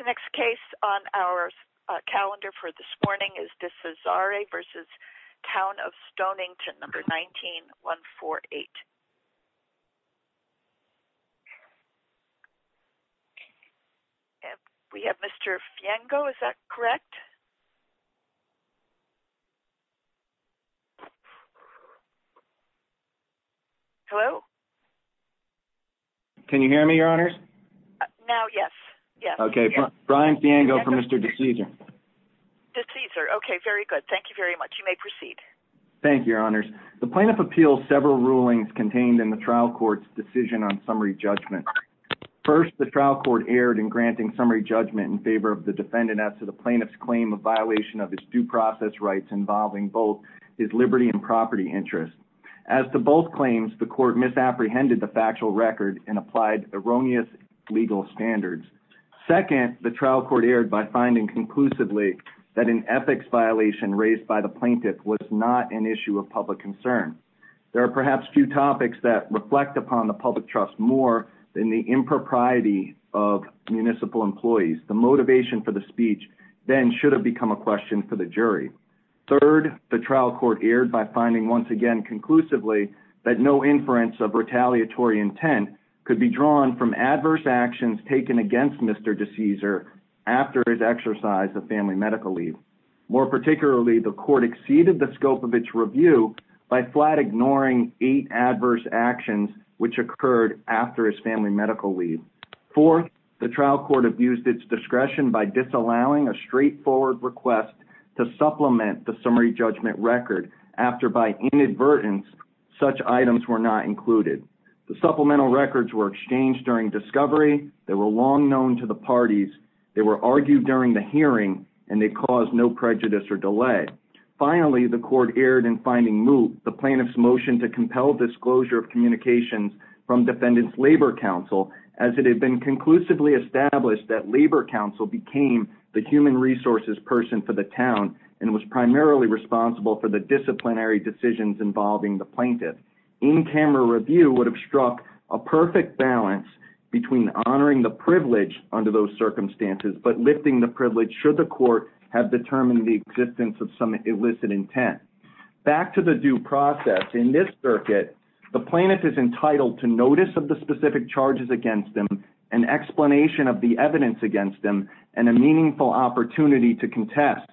19-148. We have Mr. Fiengo, is that correct? Hello? Can you hear me, Your Honors? Now, yes. Okay, Brian Fiengo for Mr. DeCesare. DeCesare, okay, very good. Thank you very much. You may proceed. Thank you, Your Honors. The plaintiff appeals several rulings contained in the trial court's decision on summary judgment. First, the trial court erred in granting summary judgment in favor of the defendant as to the plaintiff's claim of violation of his due process rights involving both his liberty and property interests. As to both claims, the court misapprehended the factual record and applied erroneous legal standards. Second, the trial court erred by finding conclusively that an ethics violation raised by the plaintiff was not an issue of public concern. There are perhaps few topics that reflect upon the public trust more than the impropriety of municipal employees. The motivation for the speech then should have become a question for the jury. Third, the trial court erred by finding once again conclusively that no inference of retaliatory intent could be drawn from adverse actions taken against Mr. DeCesare after his exercise of family medical leave. More particularly, the court exceeded the scope of its review by flat ignoring eight adverse actions which occurred after his family medical leave. Fourth, the trial court abused its discretion by disallowing a straightforward request to supplement the summary judgment record after by inadvertence such items were not included. The supplemental records were exchanged during discovery, they were long known to the parties, they were argued during the hearing, and they caused no prejudice or delay. Finally, the court erred in finding moot the plaintiff's motion to compel disclosure of communications from defendants' labor counsel as it had been conclusively established that labor counsel became the human resources person for the town and was primarily responsible for the disciplinary decisions involving the plaintiff. In-camera review would have struck a perfect balance between honoring the privilege under those circumstances but lifting the privilege should the court have determined the existence of some illicit intent. Back to the due process. In this circuit, the plaintiff is entitled to notice of the specific charges against them, an explanation of the evidence against them, and a meaningful opportunity to contest.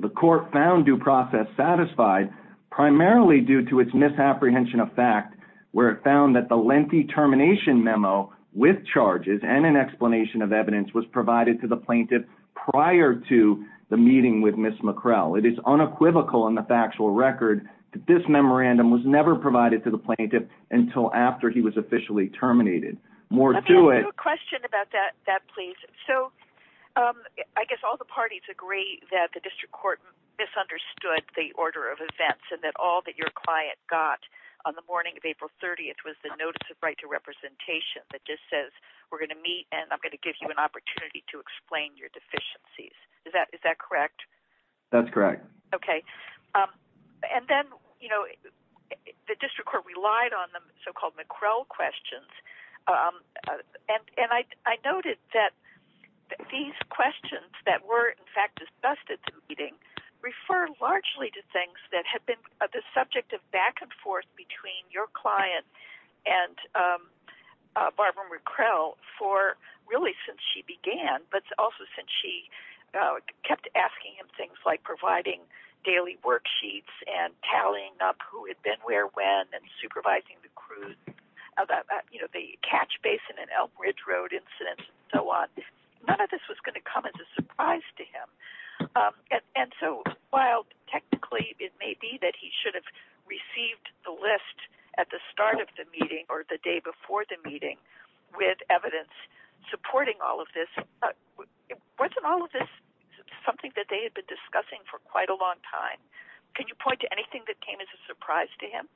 The court found due process satisfied primarily due to its misapprehension of fact where it found that the lengthy termination memo with charges and an explanation of evidence was provided to the plaintiff prior to the meeting with Ms. MacKrell. It is unequivocal in the factual record that this memorandum was never provided to the plaintiff until after he was officially terminated. Let me ask you a question about that, please. So I guess all the parties agree that the district court misunderstood the order of events and that all that your client got on the morning of April 30th was the notice of right to representation that just says we're going to meet and I'm going to give you an opportunity to explain your deficiencies. Is that correct? That's correct. Okay. And then, you know, the district court relied on the so-called MacKrell questions. And I noted that these questions that were in fact discussed at the meeting refer largely to things that have been the subject of back and forth between your client and Barbara MacKrell for really since she began but also since she kept asking him things like providing daily worksheets and tallying up who had been where when and supervising the crew, you know, the catch basin and Elk Ridge Road incidents and so on. None of this was going to come as a surprise to him. And so while technically it may be that he should have received the list at the start of the meeting or the day before the meeting with evidence supporting all of this, wasn't all of this something that they had been discussing for quite a long time? Can you point to anything that came as a surprise to him?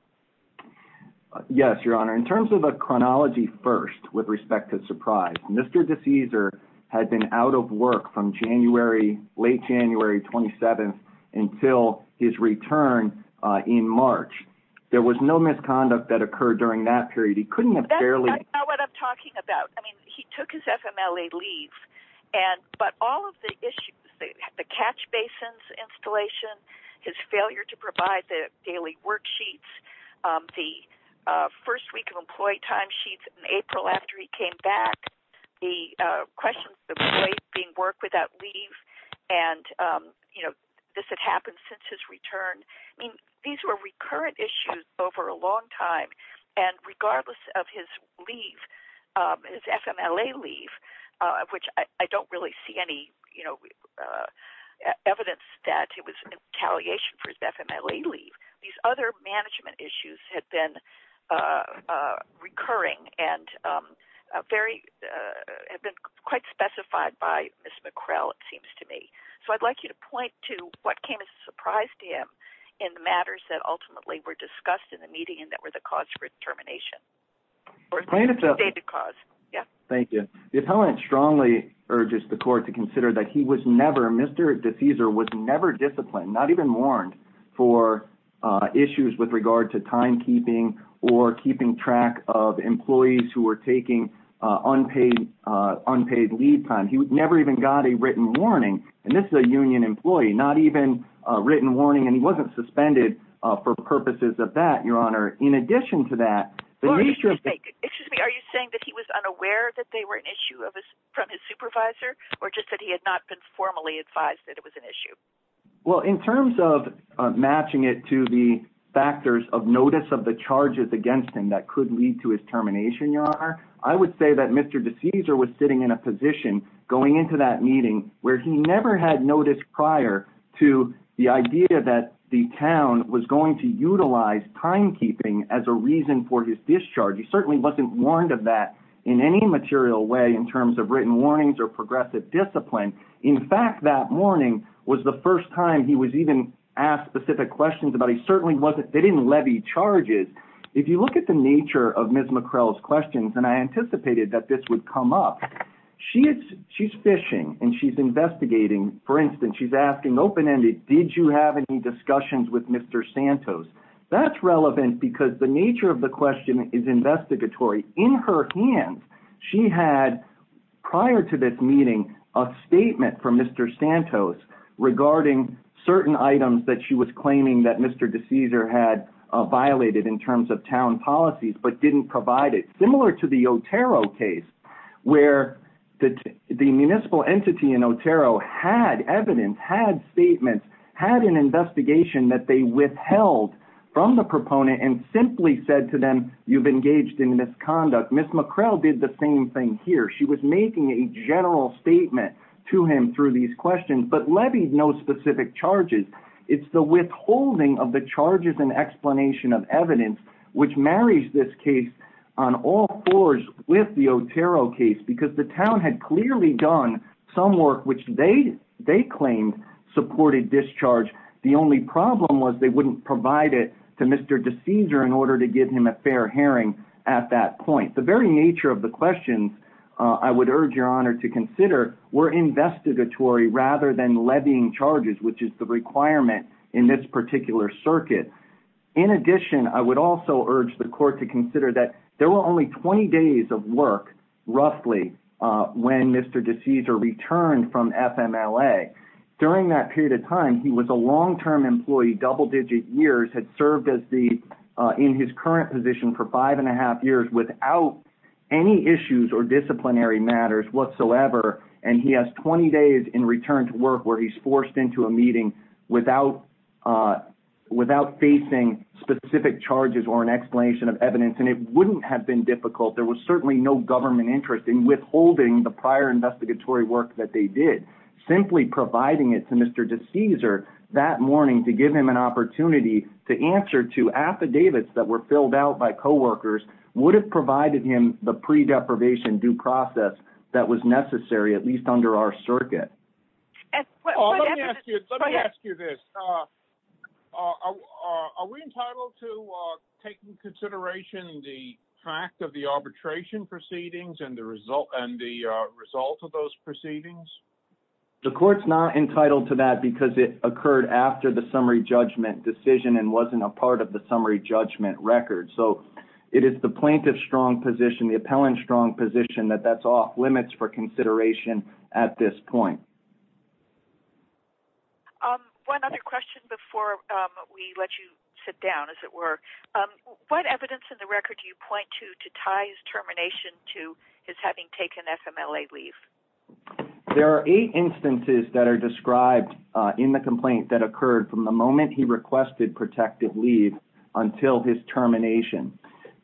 Yes, Your Honor. In terms of a chronology first with respect to surprise, Mr. DeCesar had been out of work from January, late January 27th until his return in March. There was no conduct that occurred during that period. That's not what I'm talking about. I mean, he took his FMLA leave. But all of the issues, the catch basins installation, his failure to provide the daily worksheets, the first week of employee timesheets in April after he came back, the question of being work without leave and, you know, this had happened since his return. I mean, these were recurrent issues over a long time. And regardless of his leave, his FMLA leave, which I don't really see any, you know, evidence that it was retaliation for his FMLA leave. These other management issues had been recurring and have been quite specified by Ms. MacKrell, it seems to me. So I'd like you to point to what came as a surprise to him in the matters that ultimately were discussed in the meeting and that were the cause for termination. Thank you. The appellant strongly urges the court to consider that he was never, Mr. DeCesar was never disciplined, not even warned for issues with regard to timekeeping or keeping track of and this is a union employee, not even a written warning. And he wasn't suspended for purposes of that, Your Honor. In addition to that, the nature of the... Excuse me, are you saying that he was unaware that they were an issue of his, from his supervisor, or just that he had not been formally advised that it was an issue? Well, in terms of matching it to the factors of notice of the charges against him that could lead to his termination, Your Honor, I would say that Mr. DeCesar was sitting in a position going into that meeting where he never had noticed prior to the idea that the town was going to utilize timekeeping as a reason for his discharge. He certainly wasn't warned of that in any material way in terms of written warnings or progressive discipline. In fact, that morning was the first time he was even asked specific questions about it. He certainly wasn't, they didn't levy charges. If you look at the nature of Ms. MacKrell's questions, and I anticipated that this would come up, she's fishing and she's investigating, for instance, she's asking open-ended, did you have any discussions with Mr. Santos? That's relevant because the nature of the question is investigatory. In her hands, she had, prior to this meeting, a statement from Mr. Santos regarding certain items that she was claiming that Mr. DeCesar had violated in terms of town policies, but didn't provide it. Similar to the Otero case, where the municipal entity in Otero had evidence, had statements, had an investigation that they withheld from the proponent and simply said to them, you've engaged in misconduct. Ms. MacKrell did the same thing here. She was making a general statement to him through these questions, but levied no specific charges. It's the withholding of the charges and explanation of evidence, which marries this case on all fours with the Otero case because the town had clearly done some work, which they claimed supported discharge. The only problem was they wouldn't provide it to Mr. DeCesar in order to give him a fair hearing at that point. The very nature of the questions, I would urge your honor to consider, were investigatory rather than levying charges, which is the requirement in this particular circuit. In addition, I would also urge the court to consider that there were only 20 days of work, roughly, when Mr. DeCesar returned from FMLA. During that period of time, he was a long-term employee, double-digit years, had served in his current position for five and a half years without any issues or disciplinary matters whatsoever, and he has 20 days in return to work where he's forced into a meeting without facing specific charges or an explanation of evidence. It wouldn't have been difficult. There was certainly no government interest in withholding the prior investigatory work that they did. Simply providing it to Mr. DeCesar that morning to give him an the pre-deprivation due process that was necessary, at least under our circuit. Let me ask you this. Are we entitled to take into consideration the fact of the arbitration proceedings and the result of those proceedings? The court's not entitled to that because it occurred after the summary judgment decision and wasn't a part of the summary judgment record. It is the plaintiff's strong position, the appellant's strong position, that that's off-limits for consideration at this point. One other question before we let you sit down, as it were. What evidence in the record do you point to to tie his termination to his having taken FMLA leave? There are eight instances that are described in the complaint that occurred from the moment he requested protective leave until his termination.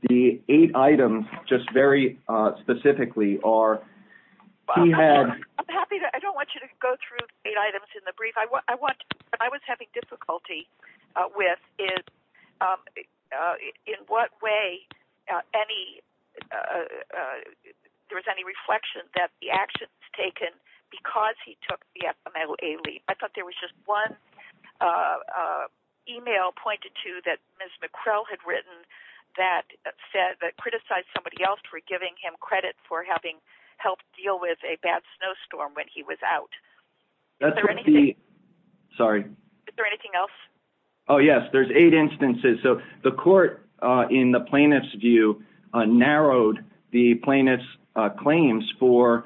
The eight items, just very specifically, are... I don't want you to go through eight items in the brief. I was having difficulty with in what way there was any reflection that the action was taken because he took the FMLA leave. I thought there was just one email pointed to that Ms. McCrell had written that criticized somebody else for giving him credit for having helped deal with a bad snowstorm when he was out. Is there anything else? Yes, there's eight instances. The court in the plaintiff's view narrowed the plaintiff's claims for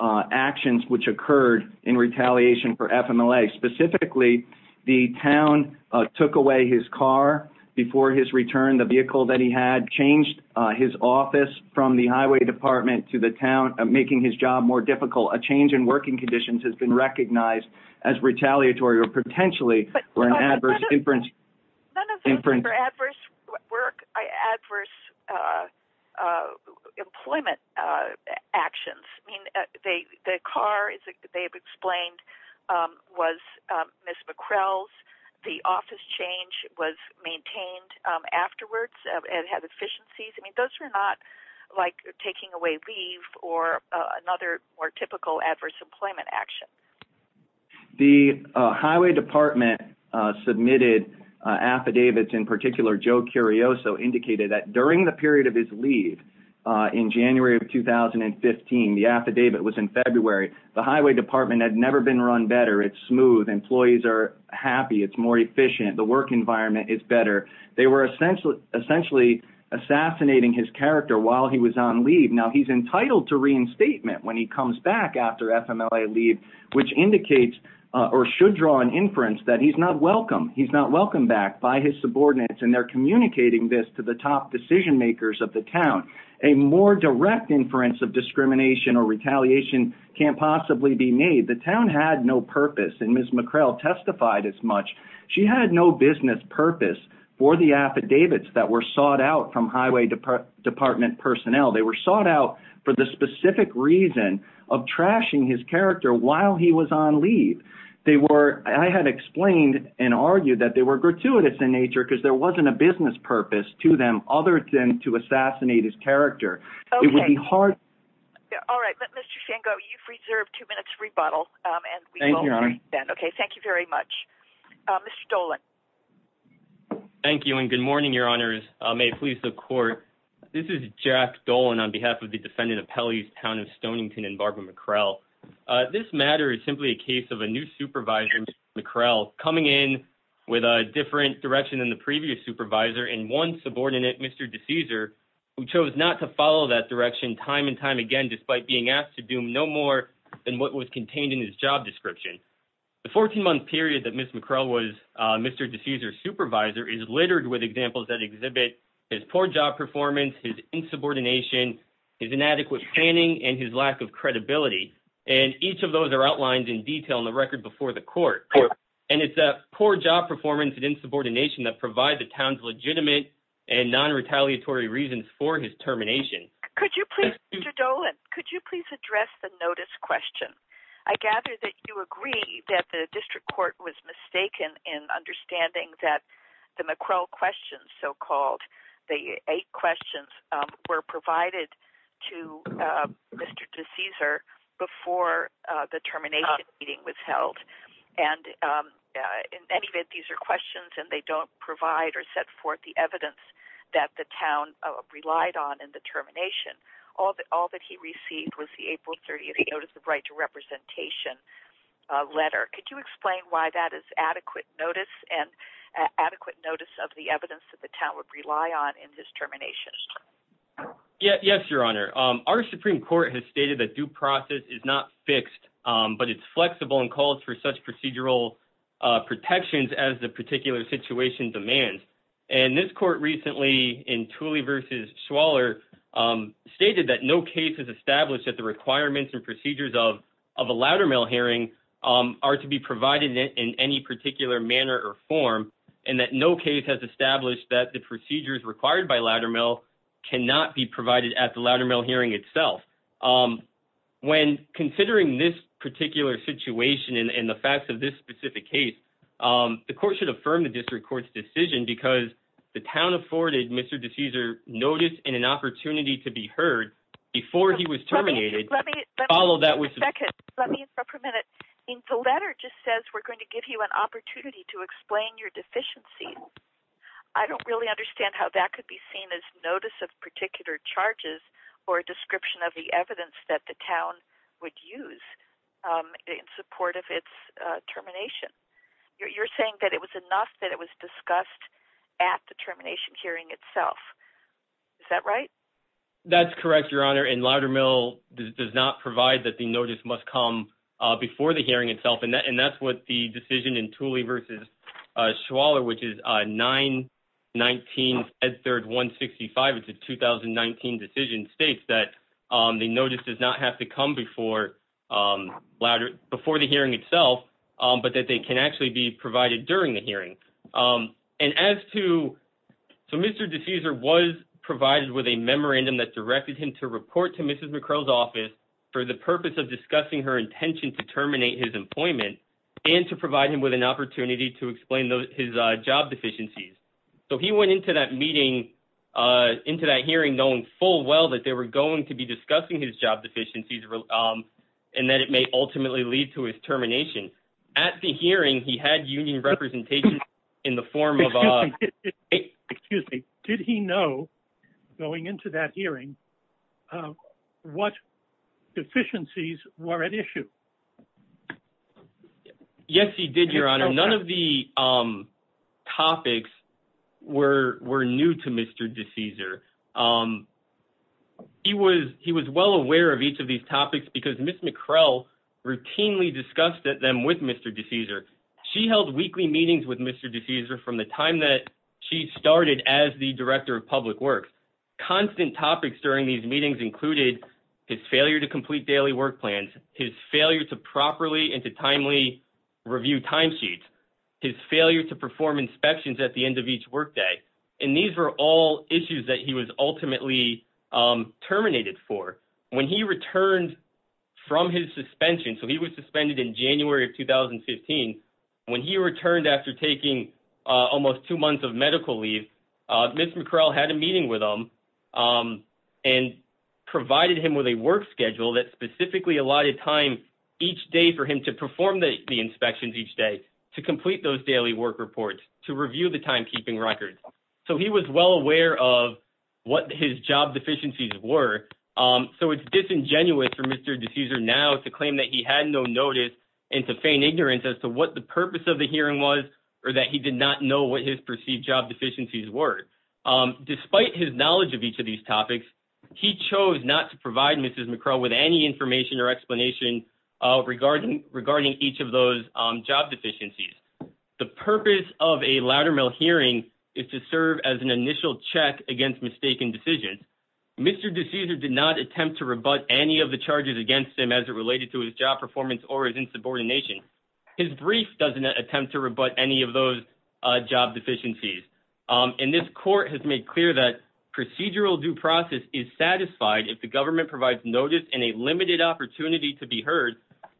actions which occurred in retaliation for FMLA. Specifically, the town took away his car before his return. The vehicle that he had changed his office from the highway department to the town, making his job more difficult. A change in working conditions has been recognized as retaliatory or potentially for an adverse inference. None of them were adverse work, adverse employment actions. I mean, the car they've explained was Ms. McCrell's. The office change was maintained afterwards and had efficiencies. I mean, not like taking away leave or another more typical adverse employment action. The highway department submitted affidavits. In particular, Joe Curioso indicated that during the period of his leave in January of 2015, the affidavit was in February. The highway department had never been run better. It's smooth. Employees are happy. It's more efficient. The work environment is better. They were essentially assassinating his character while he was on leave. Now, he's entitled to reinstatement when he comes back after FMLA leave, which indicates or should draw an inference that he's not welcome. He's not welcomed back by his subordinates, and they're communicating this to the top decision makers of the town. A more direct inference of discrimination or retaliation can't possibly be made. The town had no purpose, and Ms. McCrell testified as much. She had no business purpose for the affidavits that were sought out from highway department personnel. They were sought out for the specific reason of trashing his character while he was on leave. I had explained and argued that they were gratuitous in nature because there wasn't a business purpose to them other than to assassinate his character. It would be hard... Okay. All right. Mr. Fango, you've reserved two minutes for rebuttal. Thank you, Your Honor. Okay. Thank you very much. Mr. Dolan. Thank you, and good morning, Your Honors. May it please the court. This is Jack Dolan on behalf of the defendant of Pelley's Town of Stonington and Barbara McCrell. This matter is simply a case of a new supervisor, Ms. McCrell, coming in with a different direction than the previous supervisor and one subordinate, Mr. DeCesar, who chose not to follow that direction time and time again, despite being asked to do no more than what was contained in his job description. The 14-month period that Ms. McCrell was Mr. DeCesar's supervisor is littered with examples that exhibit his poor job performance, his insubordination, his inadequate planning, and his lack of credibility. And each of those are outlined in detail in the record before the court. And it's that poor job performance and insubordination that provide the town's legitimate and non-retaliatory reasons for his termination. Could you please, Mr. Dolan, could you please address the notice question? I gather that you agree that the district court was mistaken in understanding that the McCrell questions, so called, the eight questions, were provided to Mr. DeCesar before the termination meeting was held. And in any event, these are questions and they don't provide or set forth the evidence that the town relied on in the termination. All that he received was the April 30th Notice of Right to Representation letter. Could you explain why that is adequate notice and adequate notice of the evidence that the town would rely on in this termination? Yes, Your Honor. Our Supreme Court has stated that due process is not fixed, but it's flexible and calls for such procedural protections as the particular situation demands. And this court recently in Tooley v. Schwaller stated that no case has established that the requirements and procedures of a Loudermill hearing are to be provided in any particular manner or form, and that no case has established that the procedures required by Loudermill cannot be provided at the Loudermill hearing itself. When considering this particular situation and the facts of this specific case, the court should affirm the district court's decision because the town afforded Mr. DeCaesar notice and an opportunity to be heard before he was terminated. Let me interrupt for a minute. The letter just says we're going to give you an opportunity to explain your deficiency. I don't really understand how that could be seen as notice of particular charges or a description of the evidence that the town would use in support of its termination. You're saying that it was enough that it was discussed at the termination hearing itself. Is that right? That's correct, Your Honor, and Loudermill does not provide that the notice must come before the hearing itself, and that's what the decision in Tooley v. Schwaller, which is 919 Ed 3rd 165, it's a 2019 decision, states that the notice does not have to come before the hearing itself, but that they can actually be provided during the hearing. So Mr. DeCaesar was provided with a memorandum that directed him to report to Mrs. McCrow's office for the purpose of discussing her intention to terminate his employment and to provide him with an opportunity to explain his job deficiencies. So he went into that hearing knowing full well that they were going to be discussing his job deficiencies and that it may ultimately lead to his termination. At the hearing, he had union representation in the form of... Excuse me. Did he know going into that hearing what deficiencies were at issue? Yes, he did, Your Honor. None of the topics were new to Mr. DeCaesar. He was well aware of each of these topics because Ms. McCrow routinely discussed them with Mr. DeCaesar. She held weekly meetings with Mr. DeCaesar from the time that she started as the Director of Public Works. Constant topics during these meetings included his failure to complete daily work plans, his failure to properly and to timely review timesheets, his failure to perform inspections at the end of each workday, and these were all issues that he was ultimately terminated for. When he returned from his suspension, so he was suspended in January of 2015, when he returned after taking almost two months of medical leave, Ms. McCrow had a meeting with him and provided him with a work schedule that specifically allotted time each day for him to perform the inspections each day, to complete those daily work reports, to review the time were. So it's disingenuous for Mr. DeCaesar now to claim that he had no notice and to feign ignorance as to what the purpose of the hearing was or that he did not know what his perceived job deficiencies were. Despite his knowledge of each of these topics, he chose not to provide Ms. McCrow with any information or explanation regarding each of those job deficiencies. The purpose of a Loudermill hearing is to serve as an initial check against mistaken decisions. Mr. DeCaesar did not attempt to rebut any of the charges against him as it related to his job performance or his insubordination. His brief doesn't attempt to rebut any of those job deficiencies. And this court has made clear that procedural due process is satisfied if the government provides notice and a limited opportunity to be heard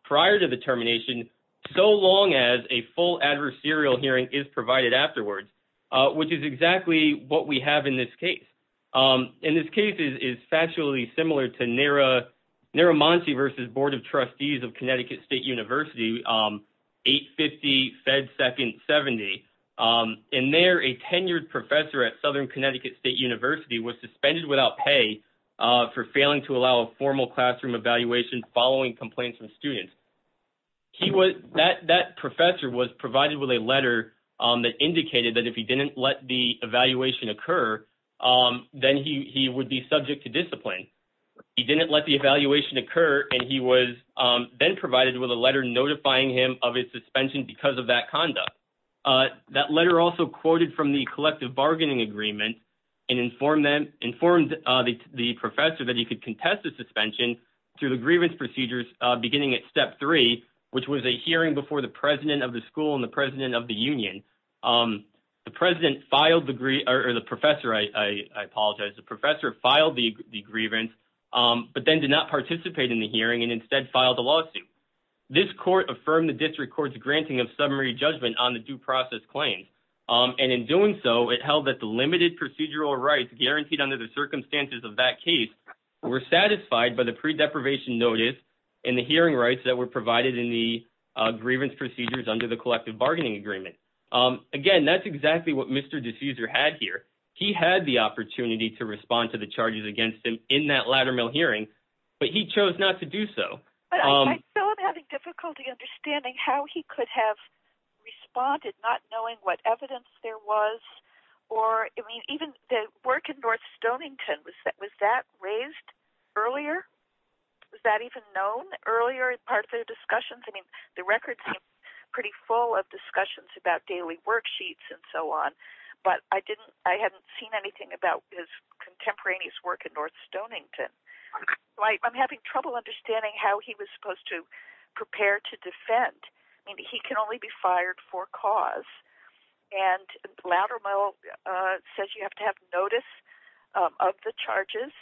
prior to the termination, so long as a full adversarial hearing is provided afterwards, which is exactly what we have in this case. And this case is factually similar to Naramonti versus Board of Trustees of Connecticut State University, 850-Fed-70. And there, a tenured professor at Southern Connecticut State University was suspended without pay for failing to allow a formal classroom evaluation following complaints from students. That professor was provided with a letter that indicated that if he didn't let the evaluation occur, then he would be subject to discipline. He didn't let the evaluation occur, and he was then provided with a letter notifying him of his suspension because of that conduct. That letter also quoted from the collective bargaining agreement and informed the professor that he could contest the suspension through the grievance procedures beginning at step three, which was a hearing before the president of the school and the president of the union. The professor filed the grievance but then did not participate in the hearing and instead filed a lawsuit. This court affirmed the district court's granting of summary judgment on the due process claims. And in doing so, it held that the limited procedural rights guaranteed under the circumstances of that case were satisfied by the pre-deprivation notice and the hearing rights that were provided in the grievance procedures under the collective bargaining agreement. Again, that's exactly what Mr. Diffuser had here. He had the opportunity to respond to the charges against him in that latter mill hearing, but he chose not to do so. I feel I'm having difficulty understanding how he could have responded not knowing what evidence there was or even the work in North Stonington. Was that raised earlier? Was that even known earlier as part of the discussions? I mean, the record seems pretty full of discussions about daily worksheets and so on, but I didn't, I hadn't seen anything about his contemporaneous work in North Stonington. I'm having trouble understanding how he was supposed to prepare to defend. I mean, he can only be fired for cause and the latter mill says you have to have notice of the charges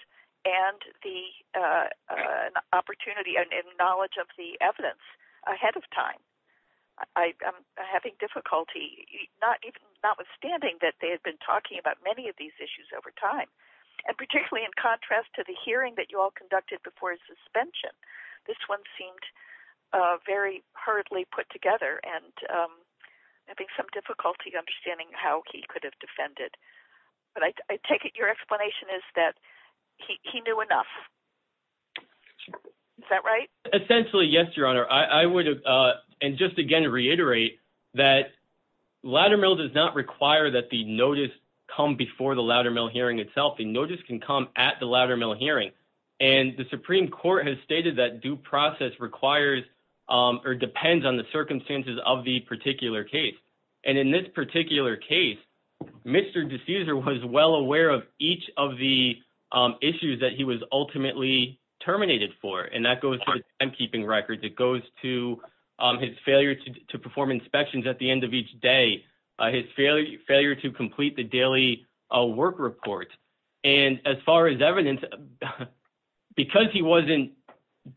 and the opportunity and knowledge of the evidence ahead of time. I'm having difficulty not even notwithstanding that they had been talking about many of these issues over time and particularly in contrast to the hearing that you all conducted before his suspension. This one seemed very hurriedly put together and having some difficulty understanding how he could have defended, but I take it your explanation is that he knew enough. Is that right? Essentially, yes, your honor. I would, and just again reiterate that latter mill does not require that the notice come before the latter mill hearing itself. The notice can come at the latter mill hearing and the Supreme Court has stated that due process requires or depends on the circumstances of the particular case and in this particular case, Mr. D'Souza was well aware of each of the issues that he was ultimately terminated for and that goes to the timekeeping records, it goes to his failure to perform inspections at the end of each day, his failure to complete the daily work report and as far as evidence, because he wasn't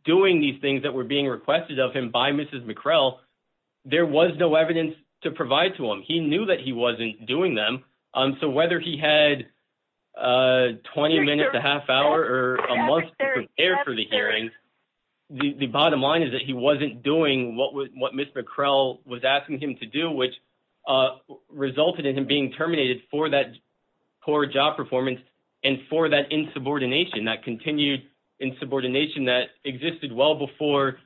doing these things that were being requested of him by Mrs. McCrell, there was no evidence to provide to him. He knew that he wasn't doing them, so whether he had 20 minutes, a half hour or a month to prepare for the hearing, the bottom line is that he wasn't doing what Ms. McCrell was asking him to do, which resulted in him being terminated for that insubordination, that continued insubordination that existed well before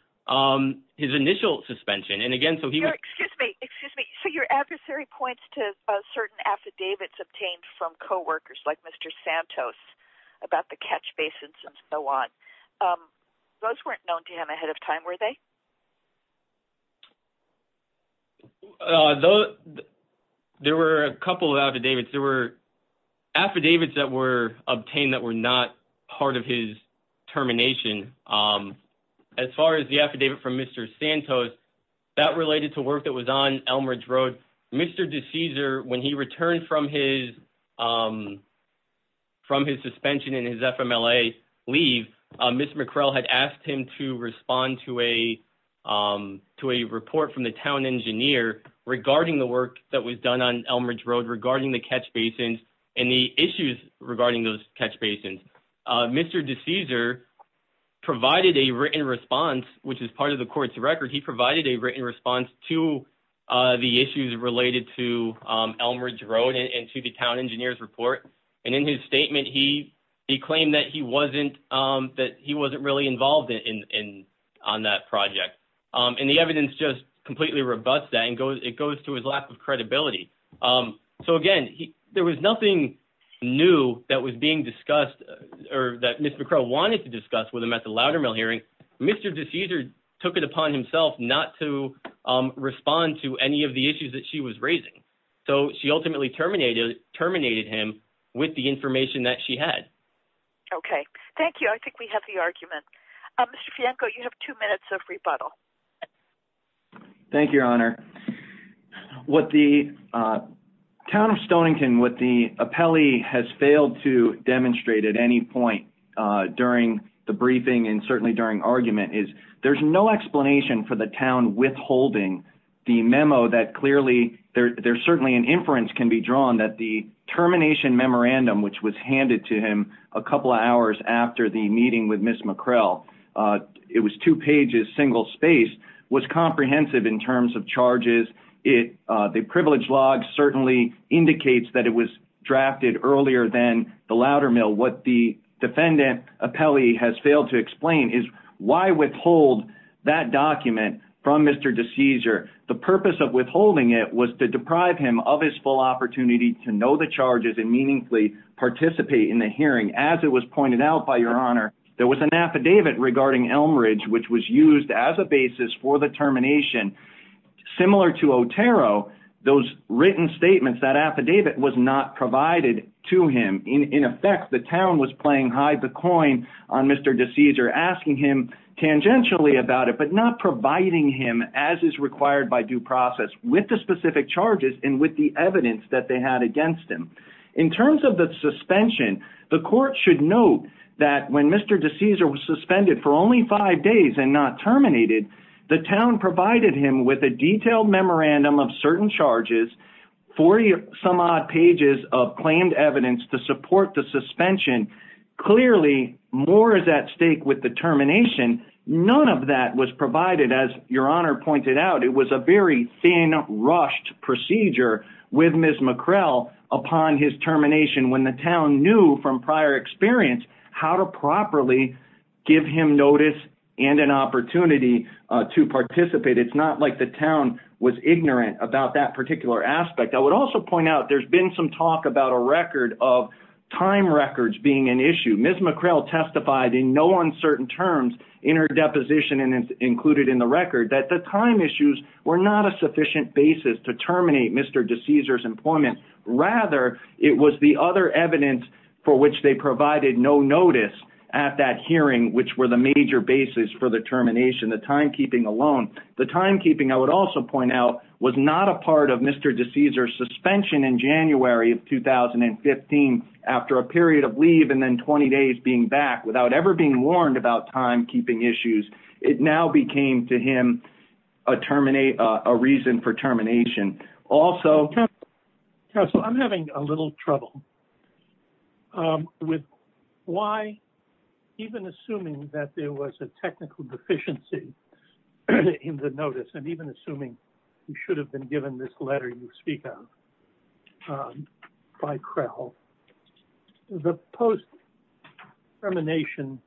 his initial suspension. So your adversary points to certain affidavits obtained from co-workers like Mr. Santos about the catch basins and so on. Those weren't known to him ahead of time, were they? There were a couple of affidavits. There were affidavits that were obtained that were not part of his termination. As far as the affidavit from Mr. Santos, that related to work that was on Elmridge Road. Mr. D'Souza, when he returned from his suspension and his FMLA leave, Ms. McCrell had asked him to respond to a report from the town engineer regarding the work that was done on Elmridge Road, regarding the catch basins and the issues regarding those catch basins. Mr. D'Souza provided a written response, which is part of the court's record. He provided a written response to the issues related to the catch basins. He claimed that he wasn't really involved on that project. And the evidence just completely rebuts that and it goes to his lack of credibility. So again, there was nothing new that was being discussed or that Ms. McCrell wanted to discuss with him at the Loudermill hearing. Mr. D'Souza took it upon himself not to respond to any of the issues that she was raising. So she ultimately terminated him with the information that she had. Okay. Thank you. I think we have the argument. Mr. Fianco, you have two minutes of rebuttal. Thank you, Your Honor. What the town of Stonington, what the appellee has failed to demonstrate at any point during the briefing and certainly during argument is there's no explanation for the town withholding the memo that clearly there's certainly an inference can be drawn that the termination memorandum, which was handed to him a couple of hours after the meeting with Ms. McCrell, it was two pages, single space, was comprehensive in terms of charges. The privilege log certainly indicates that it was drafted earlier than the Loudermill. What the defendant appellee has failed to explain is why withhold that document from Mr. D'Souza. The purpose of withholding it was to deprive him of his full opportunity to know the charges and meaningfully participate in the hearing. As it was pointed out by Your Honor, there was an affidavit regarding Elm Ridge, which was used as a basis for the termination. Similar to Otero, those written on Mr. D'Souza, asking him tangentially about it, but not providing him as is required by due process with the specific charges and with the evidence that they had against him. In terms of the suspension, the court should note that when Mr. D'Souza was suspended for only five days and not terminated, the town provided him with a detailed memorandum of certain charges, 40 some odd pages of claimed evidence to support the suspension. Clearly, more is at stake with the termination. None of that was provided, as Your Honor pointed out. It was a very thin, rushed procedure with Ms. McCrell upon his termination when the town knew from prior experience how to properly give him notice and an opportunity to participate. It's not like the town was ignorant about that particular aspect. I would also point out there's been some talk about a record of time records being an issue. Ms. McCrell testified in no uncertain terms in her deposition and included in the record that the time issues were not a sufficient basis to terminate Mr. D'Souza's employment. Rather, it was the other evidence for which they provided no notice at that hearing, which were the major basis for the termination, the timekeeping alone. The timekeeping, I would also point out, was not a part of Mr. D'Souza's suspension in January of 2015 after a period of leave and then 20 days being back without ever being warned about timekeeping issues. It now became, to him, a reason for termination. Also... Even assuming he should have been given this letter you speak of by McCrell, the post-termination,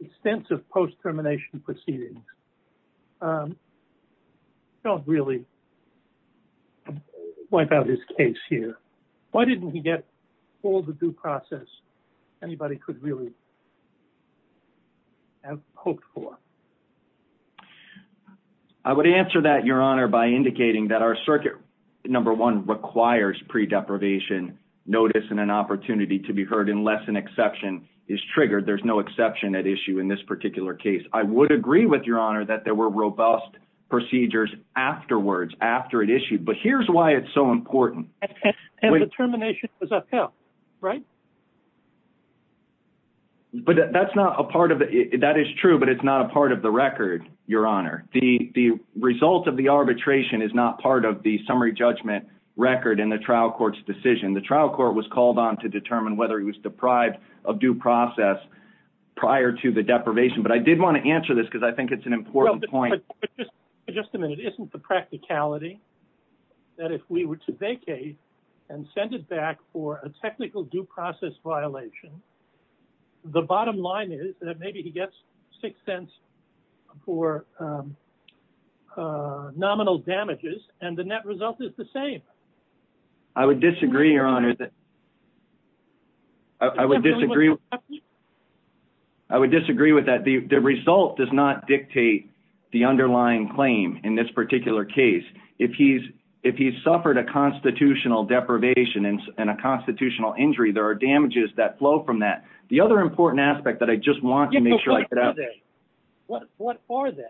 extensive post-termination proceedings don't really wipe out his case here. Why didn't he get all the due process anybody could really have hoped for? I would answer that, Your Honor, by indicating that our circuit number one requires pre-deprivation notice and an opportunity to be heard unless an exception is triggered. There's no exception at issue in this particular case. I would agree with Your Honor that there were robust procedures afterwards, after it issued, but here's why it's so important. The termination was upheld, right? That is true, but it's not a part of the record, Your Honor. The result of the arbitration is not part of the summary judgment record in the trial court's decision. The trial court was called on to determine whether he was deprived of due process prior to the deprivation, but I did want to answer this because I think it's an important point. Just a minute. Isn't the practicality that if we were to vacate and send it back for a technical due process violation, the bottom line is that maybe he gets six cents for nominal damages and the net result is the same? I would disagree, Your Honor. I would disagree. I would disagree with that. The result does not if he's suffered a constitutional deprivation and a constitutional injury, there are damages that flow from that. The other important aspect that I just want to make sure I get out- What are they?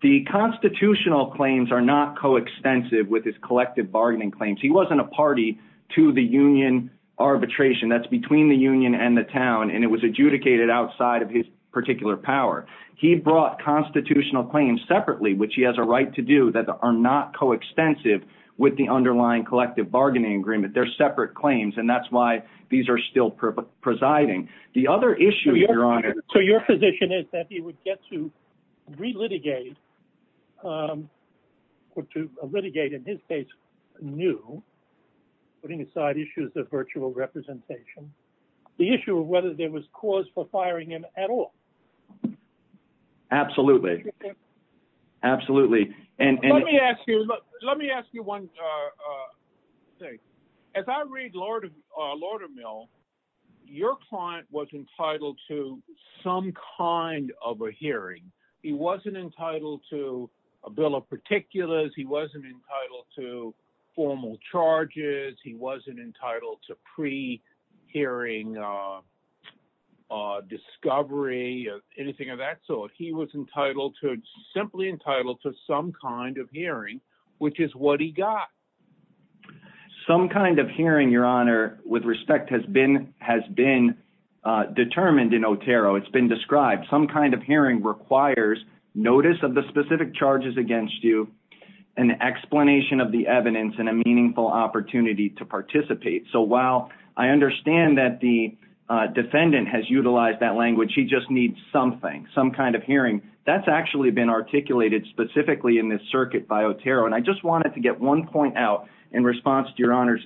The constitutional claims are not coextensive with his collective bargaining claims. He wasn't a party to the union arbitration. That's between the union and the town and it was adjudicated outside of his particular power. He brought constitutional claims separately, which he has a right to do, that are not coextensive with the underlying collective bargaining agreement. They're separate claims and that's why these are still presiding. The other issue, Your Honor- So your position is that he would get to re-litigate or to litigate in his case new, putting aside issues of virtual representation, the issue of whether there was cause for firing him at all? Absolutely. Absolutely. Let me ask you one thing. As I read Lordermill, your client was entitled to some kind of a hearing. He wasn't entitled to a bill of particulars. He wasn't entitled to formal charges. He wasn't entitled to pre-hearing discovery or anything of that sort. He was entitled to- simply entitled to some kind of hearing, which is what he got. Some kind of hearing, Your Honor, with respect has been determined in Otero. It's been described. Some kind of hearing requires notice of the specific charges against you, an explanation of the evidence, and a meaningful opportunity to participate. So while I understand that the defendant has utilized that language, he just needs something, some kind of hearing. That's actually been articulated specifically in this circuit by Otero. And I just wanted to get one point out in response to Your Honor's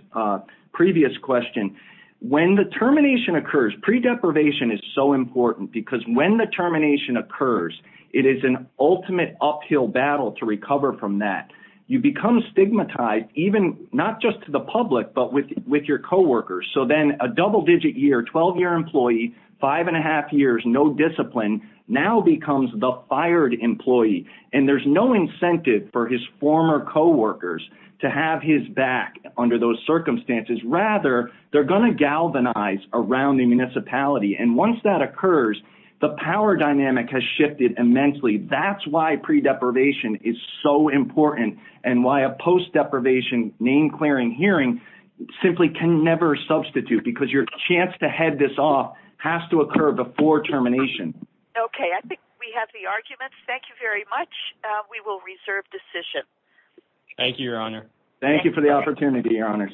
previous question. When the termination occurs, pre-deprivation is so important because when the termination occurs, it is an ultimate uphill battle to recover from that. You become stigmatized even, not just to the public, but with your co-workers. So then a double-digit year, 12-year employee, five and a half years, no discipline, now becomes the fired employee. And there's no incentive for his former co-workers to have his back under those circumstances. Rather, they're going to galvanize around the municipality. And once that occurs, the power dynamic has name-clearing hearing simply can never substitute because your chance to head this off has to occur before termination. Okay, I think we have the arguments. Thank you very much. We will reserve decision. Thank you, Your Honor. Thank you for the opportunity, Your Honors.